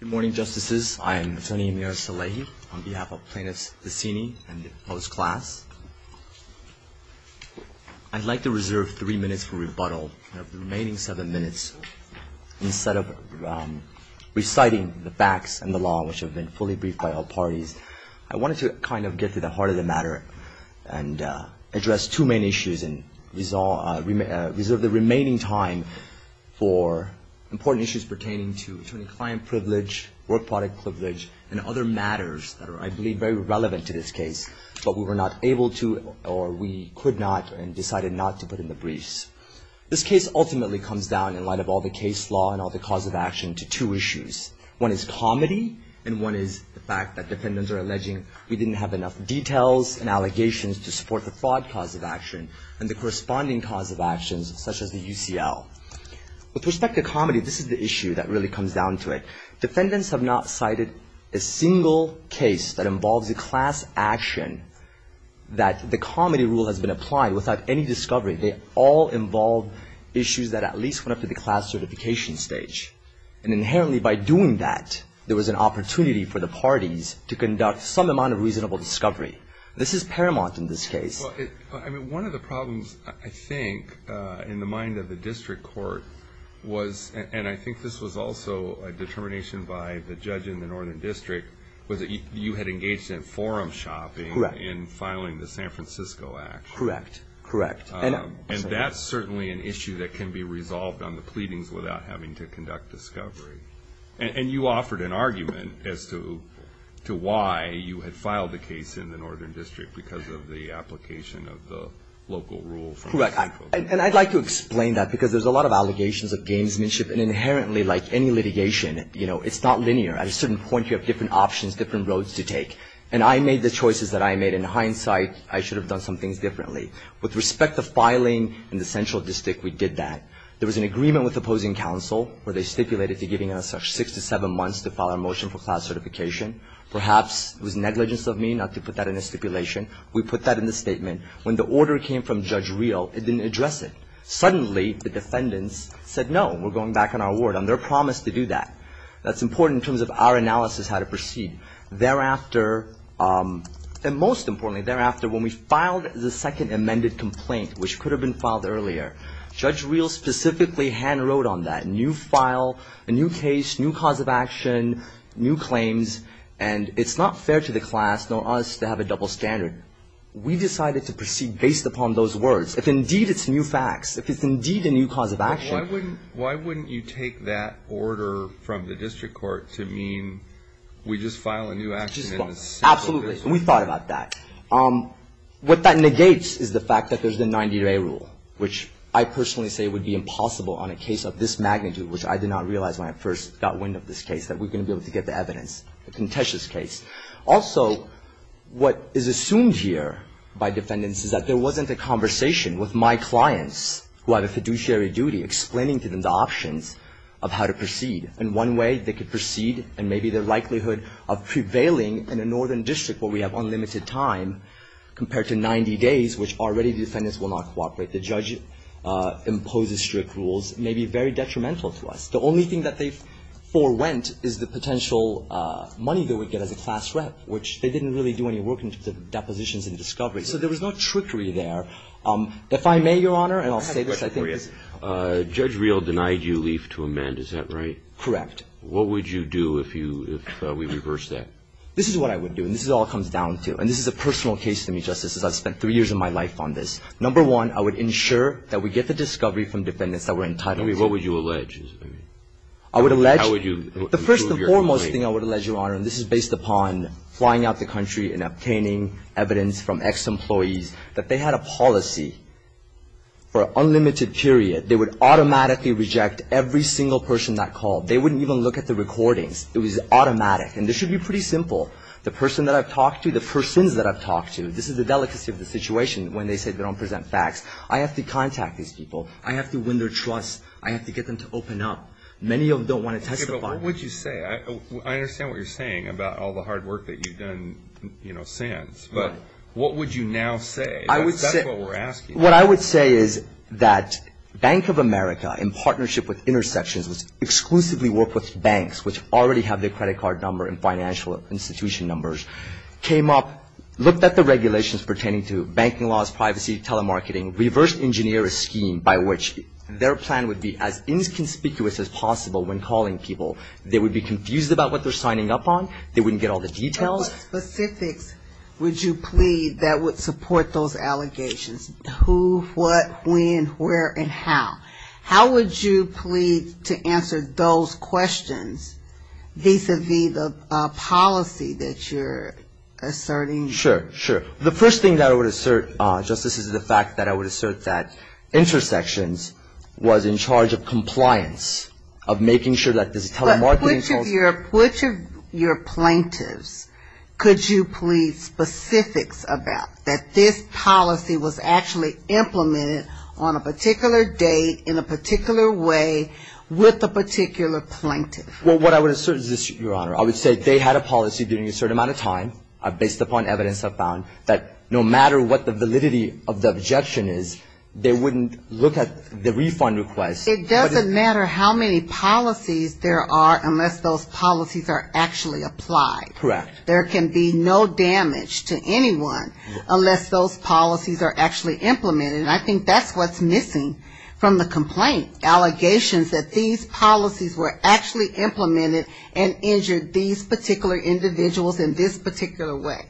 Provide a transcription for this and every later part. Good morning, Justices. I am Attorney Amir Salehi on behalf of Plaintiffs Pacini and his class. I'd like to reserve three minutes for rebuttal. I have the remaining seven minutes. Instead of reciting the facts and the law, which have been fully briefed by all parties, I wanted to kind of get to the heart of the matter and address two main issues and reserve the remaining time for important issues pertaining to attorney-client privilege, work product privilege, and other matters that are, I believe, very relevant to this case, but we were not able to or we could not and decided not to put in the briefs. This case ultimately comes down, in light of all the case law and all the cause of action, to two issues. One is comedy, and one is the fact that defendants are alleging we didn't have enough details and allegations to support the fraud cause of action and the corresponding cause of actions, such as the UCL. With respect to comedy, this is the issue that really comes down to it. Defendants have not cited a single case that involves a class action that the comedy rule has been applied without any discovery. They all involve issues that at least went up to the class certification stage, and inherently, by doing that, there was an opportunity for the parties to conduct some amount of reasonable discovery. This is paramount in this case. Well, I mean, one of the problems, I think, in the mind of the district court was, and I think this was also a determination by the judge in the Northern District, was that you had engaged in forum shopping in filing the San Francisco Act. Correct. Correct. And that's certainly an issue that can be resolved on the pleadings without having to conduct discovery. And you offered an argument as to why you had filed the case in the Northern District, because of the application of the local rule. Correct. And I'd like to explain that, because there's a lot of allegations of gamesmanship, and inherently, like any litigation, you know, it's not linear. At a certain point, you have different options, different roads to take. And I made the choices that I made. In hindsight, I should have done some things differently. With respect to filing in the Central District, we did that. There was an agreement with opposing counsel, where they stipulated to giving us six to seven months to file a motion for class certification. Perhaps it was negligence of me not to put that in a stipulation. We put that in the statement. When the order came from Judge Reel, it didn't address it. Suddenly, the defendants said, no, we're going back on our word, on their promise to do that. That's important in terms of our analysis, how to proceed. Thereafter, and most importantly, thereafter, when we filed the second amended complaint, which could have been filed earlier, Judge Reel specifically hand-wrote on that. New file, a new case, new cause of action, new claims, and it's not fair to the class nor us to have a double standard. We decided to proceed based upon those words. If indeed it's new facts, if it's indeed a new cause of action. Why wouldn't you take that order from the district court to mean we just file a new action in the Central District? Absolutely. We thought about that. What that negates is the fact that there's a 90-day rule, which I personally say would be impossible on a case of this magnitude, which I did not realize when I first got wind of this case, that we're going to be able to get the evidence. It's a contentious case. Also, what is assumed here by defendants is that there wasn't a conversation with my clients, who have a fiduciary duty, explaining to them the options of how to proceed. And one way they could proceed, and maybe the likelihood of prevailing in a northern district where we have unlimited time compared to 90 days, which already the defendants will not cooperate. The judge imposes strict rules. It may be very detrimental to us. The only thing that they forewent is the potential money they would get as a class rep, which they didn't really do any work in the depositions and discoveries. So there was no trickery there. If I may, Your Honor, and I'll say this. I have a question for you. Judge Reel denied you leaf to amend. Is that right? Correct. What would you do if we reversed that? This is what I would do. And this is all it comes down to. And this is a personal case to me, Justice, as I've spent three years of my life on this. Number one, I would ensure that we get the discovery from defendants that we're entitled to. What would you allege? I would allege the first and foremost thing I would allege, Your Honor, and this is based upon flying out the country and obtaining evidence from ex-employees, that they had a policy for an unlimited period. They would automatically reject every single person that called. They wouldn't even look at the recordings. It was automatic. And this should be pretty simple. The person that I've talked to, the persons that I've talked to, this is the delicacy of the situation when they say they don't present facts. I have to contact these people. I have to win their trust. I have to get them to open up. Many of them don't want to testify. Okay, but what would you say? I understand what you're saying about all the hard work that you've done, you know, since. But what would you now say? That's what we're asking. What I would say is that Bank of America, in partnership with Intersections, which exclusively work with banks which already have their credit card number and financial institution numbers, came up, looked at the regulations pertaining to banking laws, privacy, telemarketing, reversed engineer a scheme by which their plan would be as inconspicuous as possible when calling people. They would be confused about what they're signing up on. They wouldn't get all the details. But what specifics would you plead that would support those allegations? Who, what, when, where, and how? How would you plead to answer those questions vis-à-vis the policy that you're asserting? Sure, sure. The first thing that I would assert, Justice, is the fact that I would assert that Intersections was in charge of compliance, of making sure that there's telemarketing. But which of your plaintiffs could you plead specifics about, that this policy was actually implemented on a particular date, in a particular way, with a particular plaintiff? Well, what I would assert is this, Your Honor. I would say they had a policy during a certain amount of time, based upon evidence I've found, that no matter what the validity of the objection is, they wouldn't look at the refund request. It doesn't matter how many policies there are unless those policies are actually applied. Correct. There can be no damage to anyone unless those policies are actually implemented. And I think that's what's missing from the complaint, allegations that these policies were actually implemented and injured these particular individuals in this particular way.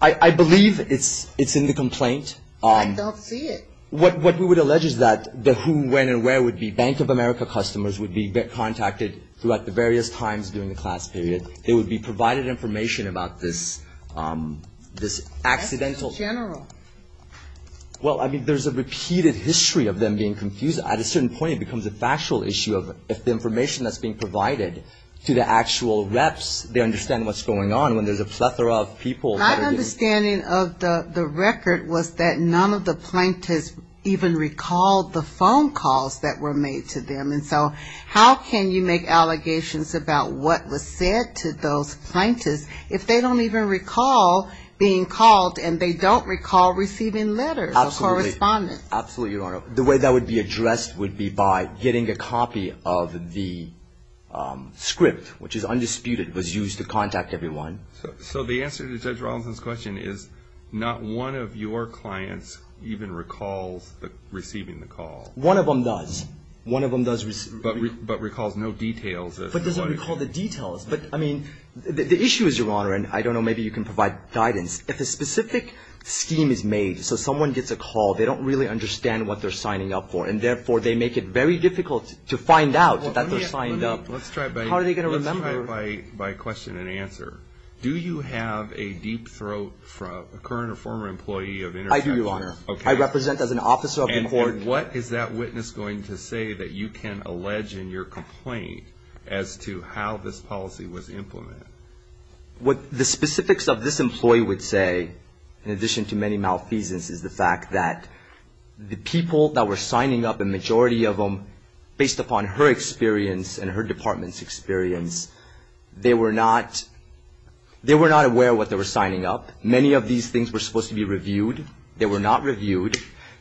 I believe it's in the complaint. I don't see it. What we would allege is that the who, when, and where would be Bank of America customers would be contacted throughout the various times during the class period. So they would be provided information about this accidental. That's the general. Well, I mean, there's a repeated history of them being confused. At a certain point, it becomes a factual issue of if the information that's being provided to the actual reps, they understand what's going on when there's a plethora of people. My understanding of the record was that none of the plaintiffs even recalled the phone calls that were made to them. And so how can you make allegations about what was said to those plaintiffs if they don't even recall being called and they don't recall receiving letters or correspondence? Absolutely. Absolutely, Your Honor. The way that would be addressed would be by getting a copy of the script, which is undisputed, was used to contact everyone. So the answer to Judge Rawlinson's question is not one of your clients even recalls receiving the call. One of them does. One of them does. But recalls no details. But doesn't recall the details. But, I mean, the issue is, Your Honor, and I don't know, maybe you can provide guidance. If a specific scheme is made so someone gets a call, they don't really understand what they're signing up for. And, therefore, they make it very difficult to find out that they're signed up. How are they going to remember? Let's try it by question and answer. Do you have a deep throat, a current or former employee of InterCapture? I do, Your Honor. I represent as an officer of the court. And what is that witness going to say that you can allege in your complaint as to how this policy was implemented? What the specifics of this employee would say, in addition to many malfeasance, is the fact that the people that were signing up, the majority of them, based upon her experience and her department's experience, they were not aware what they were signing up. Many of these things were supposed to be reviewed. They were not reviewed.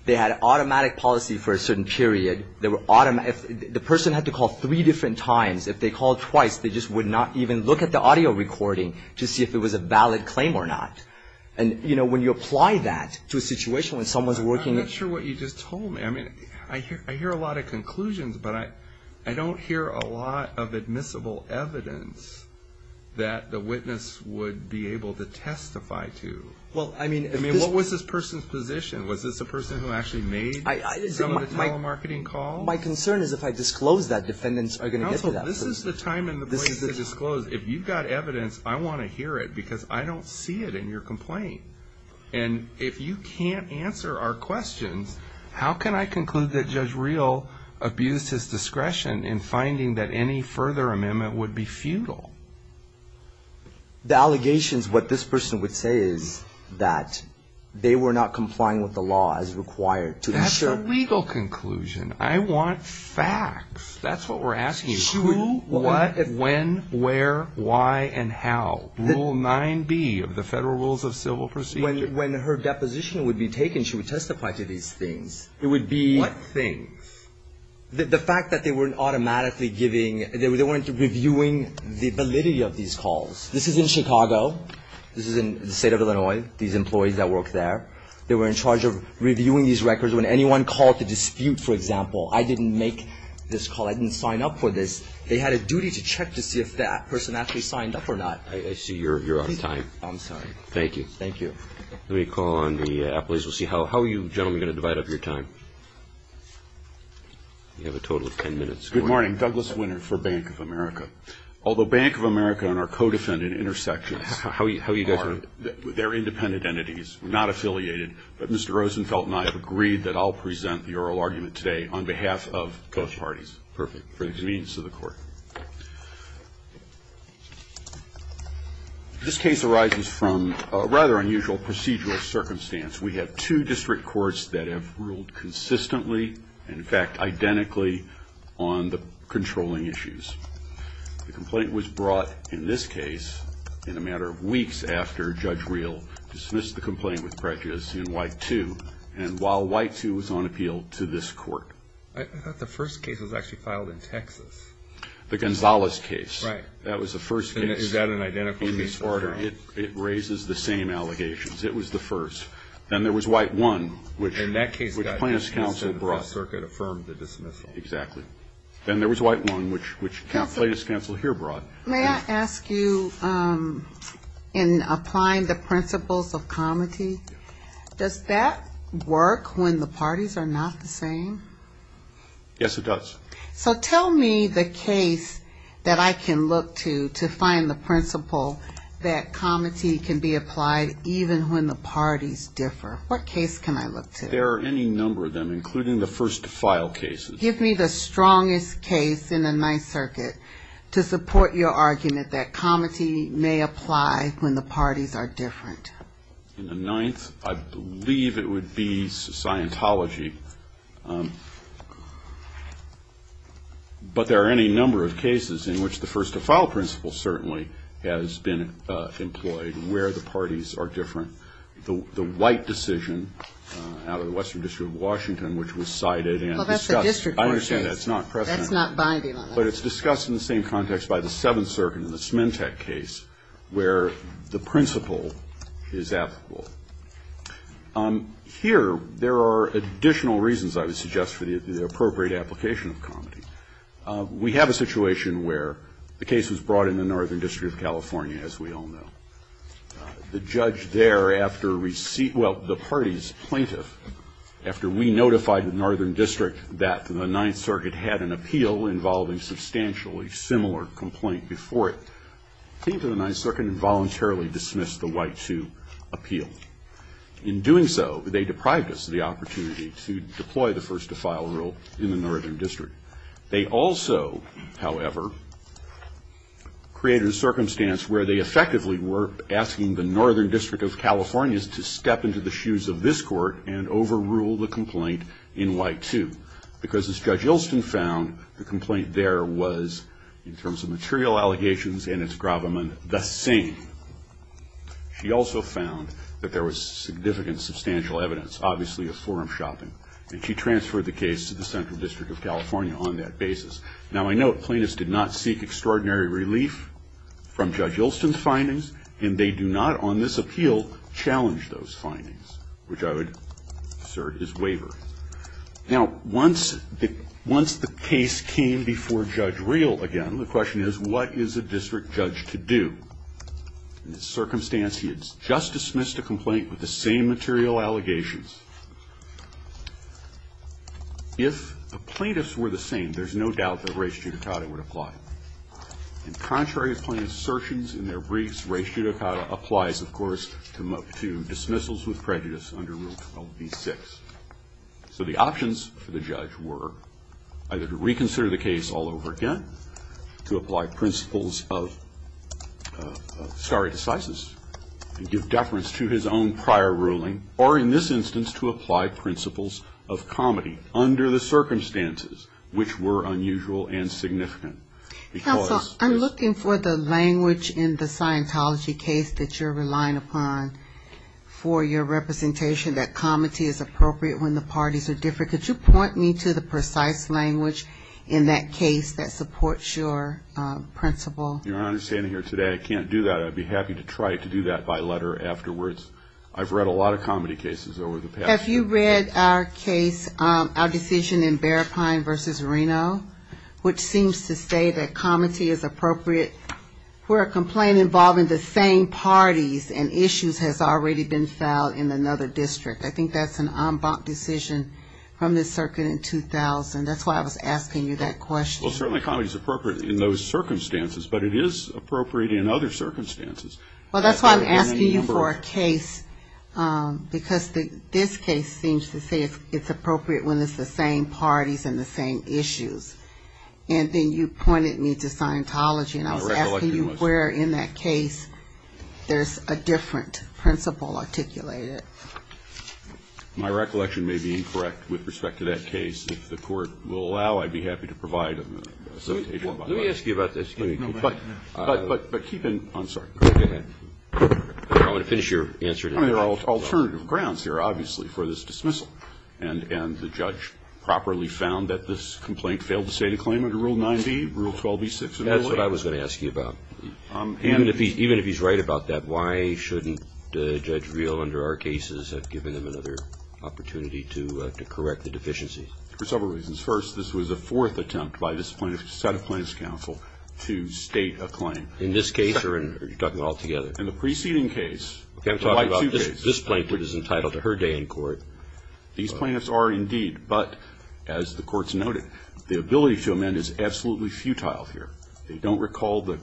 They had an automatic policy for a certain period. The person had to call three different times. If they called twice, they just would not even look at the audio recording to see if it was a valid claim or not. And, you know, when you apply that to a situation when someone's working at you. I'm not sure what you just told me. I mean, I hear a lot of conclusions, but I don't hear a lot of admissible evidence that the witness would be able to testify to. Well, I mean. I mean, what was this person's position? Was this a person who actually made some of the telemarketing calls? My concern is if I disclose that, defendants are going to get to that person. No, this is the time and the place to disclose. If you've got evidence, I want to hear it because I don't see it in your complaint. And if you can't answer our questions, how can I conclude that Judge Reel abused his discretion in finding that any further amendment would be futile? The allegations, what this person would say is that they were not complying with the law as required to ensure. That's the legal conclusion. I want facts. That's what we're asking you. Who, what, when, where, why, and how. Rule 9B of the Federal Rules of Civil Procedure. When her deposition would be taken, she would testify to these things. It would be. What things? The fact that they weren't automatically giving, they weren't reviewing the validity of these calls. This is in Chicago. This is in the state of Illinois, these employees that work there. They were in charge of reviewing these records. When anyone called the dispute, for example, I didn't make this call. I didn't sign up for this. They had a duty to check to see if that person actually signed up or not. I see you're out of time. I'm sorry. Thank you. Thank you. Let me call on the appellees. We'll see how you gentlemen are going to divide up your time. You have a total of ten minutes. Good morning. Douglas Winter for Bank of America. Although Bank of America and our co-defendant intersections aren't, they're independent entities, not affiliated. But Mr. Rosenfeld and I have agreed that I'll present the oral argument today on behalf of both parties. Perfect. For the convenience of the Court. This case arises from a rather unusual procedural circumstance. We have two district courts that have ruled consistently and, in fact, identically on the controlling issues. The complaint was brought in this case in a matter of weeks after Judge Real dismissed the complaint with prejudice in Y2, and while Y2 was on appeal to this court. I thought the first case was actually filed in Texas. The Gonzalez case. Right. That was the first case. Is that an identical case? In this order. It raises the same allegations. It was the first. Then there was Y1, which Plaintiff's counsel brought. And that case got dismissed and the Fifth Circuit affirmed the dismissal. Exactly. Then there was Y1, which Plaintiff's counsel here brought. May I ask you, in applying the principles of comity, does that work when the parties are not the same? Yes, it does. So tell me the case that I can look to to find the principle that comity can be applied even when the parties differ. What case can I look to? There are any number of them, including the first to file cases. Give me the strongest case in the Ninth Circuit to support your argument that comity may apply when the parties are different. In the Ninth, I believe it would be Scientology. But there are any number of cases in which the first to file principle certainly has been employed where the parties are different. The White decision out of the Western District of Washington, which was cited and discussed. Well, that's a district court case. I understand that. It's not precedent. That's not binding on us. But it's discussed in the same context by the Seventh Circuit in the Smintek case where the principle is applicable. Here, there are additional reasons, I would suggest, for the appropriate application of comity. We have a situation where the case was brought in the Northern District of California, as we all know. The judge there, after receipt, well, the party's plaintiff, after we notified the Northern District that the Ninth Circuit had an appeal involving substantially similar complaint before it, came to the Ninth Circuit and voluntarily dismissed the White to appeal. In doing so, they deprived us of the opportunity to deploy the first to file rule in the Northern District. They also, however, created a circumstance where they effectively were asking the Northern District of California to step into the shoes of this court and overrule the complaint in White, too. Because, as Judge Ilston found, the complaint there was, in terms of material allegations and its gravamen, the same. She also found that there was significant substantial evidence, obviously, of forum shopping. And she transferred the case to the Central District of California on that basis. Now, I note, plaintiffs did not seek extraordinary relief from Judge Ilston's findings, and they do not, on this appeal, challenge those findings, which I would assert is wavering. Now, once the case came before Judge Real again, the question is, what is a district judge to do? In this circumstance, he had just dismissed a complaint with the same material allegations. If the plaintiffs were the same, there's no doubt that res judicata would apply. And contrary to plaintiff's assertions in their briefs, res judicata applies, of course, to dismissals with prejudice under Rule 12b-6. So the options for the judge were either to reconsider the case all over again, to apply principles of stare decisis and give deference to his own prior ruling, or in this instance, to apply principles of comedy under the circumstances, which were unusual and significant. Counsel, I'm looking for the language in the Scientology case that you're relying upon for your representation, that comedy is appropriate when the parties are different. Could you point me to the precise language in that case that supports your principle? Your Honor, standing here today, I can't do that. I'd be happy to try to do that by letter afterwards. I've read a lot of comedy cases over the past year. Have you read our case, our decision in Bearpine v. Reno, which seems to say that comedy is appropriate where a complaint involving the same parties and issues has already been filed in another district? I think that's an en banc decision from the circuit in 2000. That's why I was asking you that question. Well, certainly comedy is appropriate in those circumstances, but it is appropriate in other circumstances. Well, that's why I'm asking you for a case, because this case seems to say it's appropriate when it's the same parties and the same issues. And then you pointed me to Scientology, and I was asking you where in that case there's a different principle articulated. My recollection may be incorrect with respect to that case. If the court will allow, I'd be happy to provide an association by letter. Let me ask you about this. I'm sorry. I want to finish your answer. There are alternative grounds here, obviously, for this dismissal, and the judge properly found that this complaint failed to state a claim under Rule 9b, Rule 12b-6. That's what I was going to ask you about. Even if he's right about that, why shouldn't Judge Reel under our cases have given him another opportunity to correct the deficiency? For several reasons. First, this was a fourth attempt by this plaintiff to set a plaintiff's counsel to state a claim. In this case, or are you talking all together? In the preceding case. Okay, I'm talking about this plaintiff is entitled to her day in court. These plaintiffs are indeed, but as the court's noted, the ability to amend is absolutely futile here. They don't recall the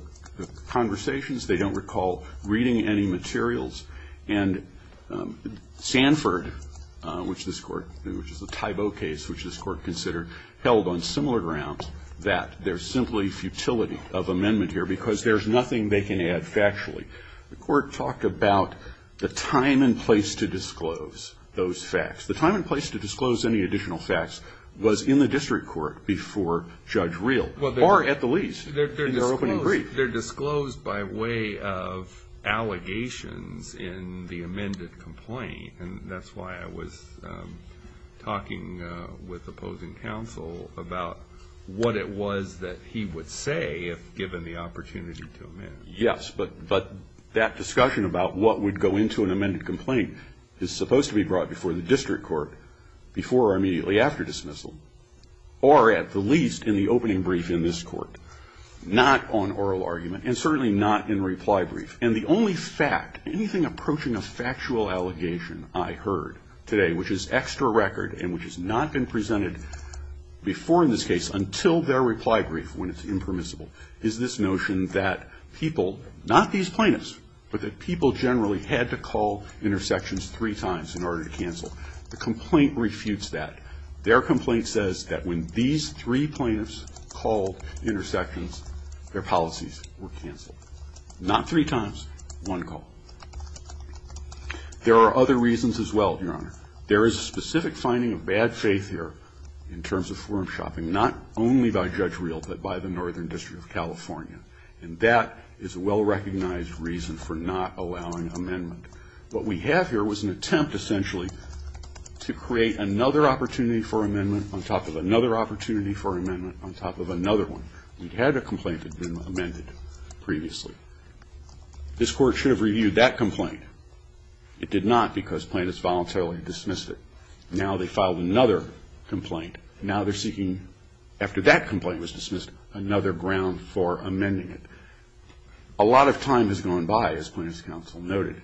conversations. They don't recall reading any materials. And Sanford, which this court, which is a type O case, which this court considered held on similar grounds, that there's simply futility of amendment here because there's nothing they can add factually. The court talked about the time and place to disclose those facts. The time and place to disclose any additional facts was in the district court before Judge Reel, or at the lease in their opening brief. They're disclosed by way of allegations in the amended complaint, and that's why I was talking with opposing counsel about what it was that he would say if given the opportunity to amend. Yes, but that discussion about what would go into an amended complaint is supposed to be brought before the district court before or immediately after dismissal, or at the least in the opening brief in this court, not on oral argument, and certainly not in reply brief. And the only fact, anything approaching a factual allegation I heard today, which is extra record and which has not been presented before in this case until their reply brief, when it's impermissible, is this notion that people, not these plaintiffs, but that people generally had to call intersections three times in order to cancel. The complaint refutes that. Their complaint says that when these three plaintiffs called intersections, their policies were canceled. Not three times, one call. There are other reasons as well, Your Honor. There is a specific finding of bad faith here in terms of forum shopping, not only by Judge Reel but by the Northern District of California, and that is a well-recognized reason for not allowing amendment. What we have here was an attempt, essentially, to create another opportunity for amendment on top of another opportunity for amendment on top of another one. We had a complaint that had been amended previously. This court should have reviewed that complaint. It did not because plaintiffs voluntarily dismissed it. Now they filed another complaint. Now they're seeking, after that complaint was dismissed, another ground for amending it. A lot of time has gone by, as Plaintiffs' Counsel noted,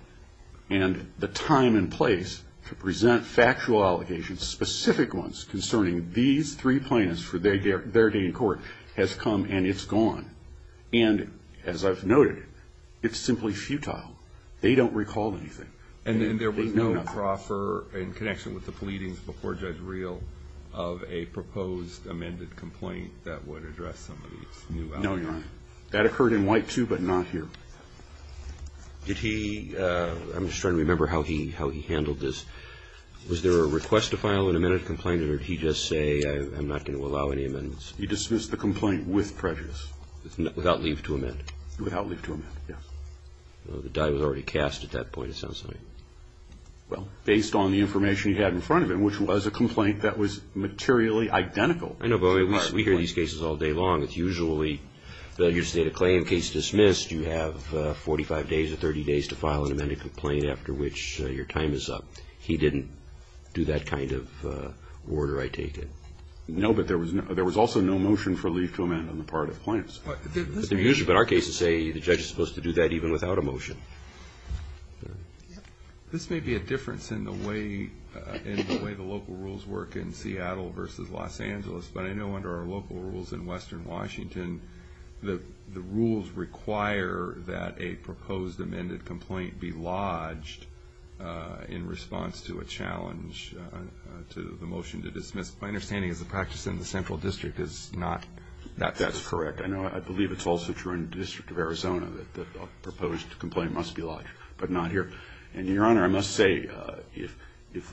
and the time and place to present factual allegations, specific ones concerning these three plaintiffs for their day in court, has come and it's gone. And as I've noted, it's simply futile. They don't recall anything. And there was no proffer in connection with the pleadings before Judge Reel of a proposed amended complaint that would address some of these new allegations? No, Your Honor. That occurred in White, too, but not here. Did he – I'm just trying to remember how he handled this. Was there a request to file an amended complaint or did he just say, I'm not going to allow any amendments? He dismissed the complaint with prejudice. Without leave to amend? Without leave to amend, yes. The die was already cast at that point, it sounds to me. Well, based on the information he had in front of him, which was a complaint that was materially identical. I know, but we hear these cases all day long. It's usually that you state a claim, case dismissed, you have 45 days or 30 days to file an amended complaint after which your time is up. He didn't do that kind of order, I take it. No, but there was also no motion for leave to amend on the part of the plaintiffs. But in our case, they say the judge is supposed to do that even without a motion. This may be a difference in the way the local rules work in Seattle versus Los Angeles, but I know under our local rules in western Washington, the rules require that a proposed amended complaint be lodged in response to a challenge, to the motion to dismiss. My understanding is the practice in the central district is not that that's correct. I know I believe it's also true in the District of Arizona that a proposed complaint must be lodged, but not here. And, Your Honor, I must say, if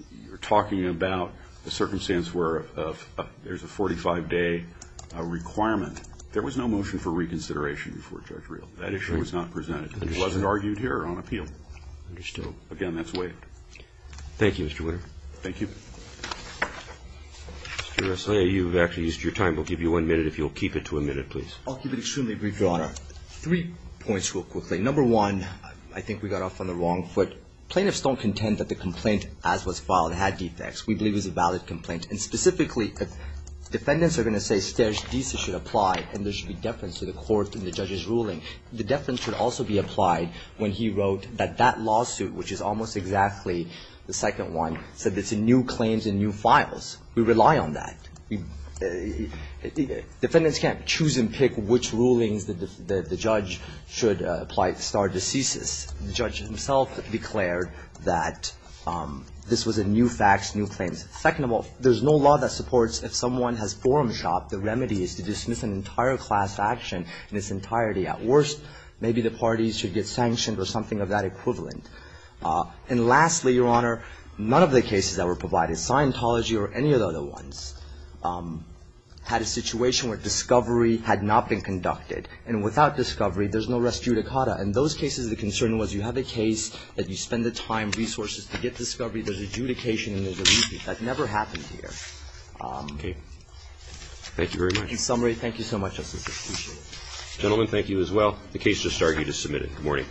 you're talking about a circumstance where there's a 45-day requirement, there was no motion for reconsideration before Judge Reel. That issue was not presented. It wasn't argued here or on appeal. Understood. Again, that's waived. Thank you, Mr. Winter. Thank you. Mr. Resnick, you've actually used your time. We'll give you one minute if you'll keep it to a minute, please. I'll keep it extremely brief, Your Honor. Three points real quickly. Number one, I think we got off on the wrong foot. Plaintiffs don't contend that the complaint, as was filed, had defects. We believe it was a valid complaint. And, specifically, defendants are going to say stage decent should apply, and there should be deference to the court and the judge's ruling. The deference should also be applied when he wrote that that lawsuit, which is almost exactly the second one, said it's a new claims and new files. We rely on that. Defendants can't choose and pick which rulings the judge should apply to start a thesis. The judge himself declared that this was a new facts, new claims. Second of all, there's no law that supports if someone has forum shop, the remedy is to dismiss an entire class action in its entirety. At worst, maybe the parties should get sanctioned or something of that equivalent. And, lastly, Your Honor, none of the cases that were provided, Scientology or any of the other ones, had a situation where discovery had not been conducted. And without discovery, there's no res judicata. In those cases, the concern was you have a case that you spend the time, resources to get discovery, there's adjudication and there's a lease. That never happened here. Okay. Thank you very much. In summary, thank you so much, Justice. Appreciate it. The case just started. You just submitted it. Good morning.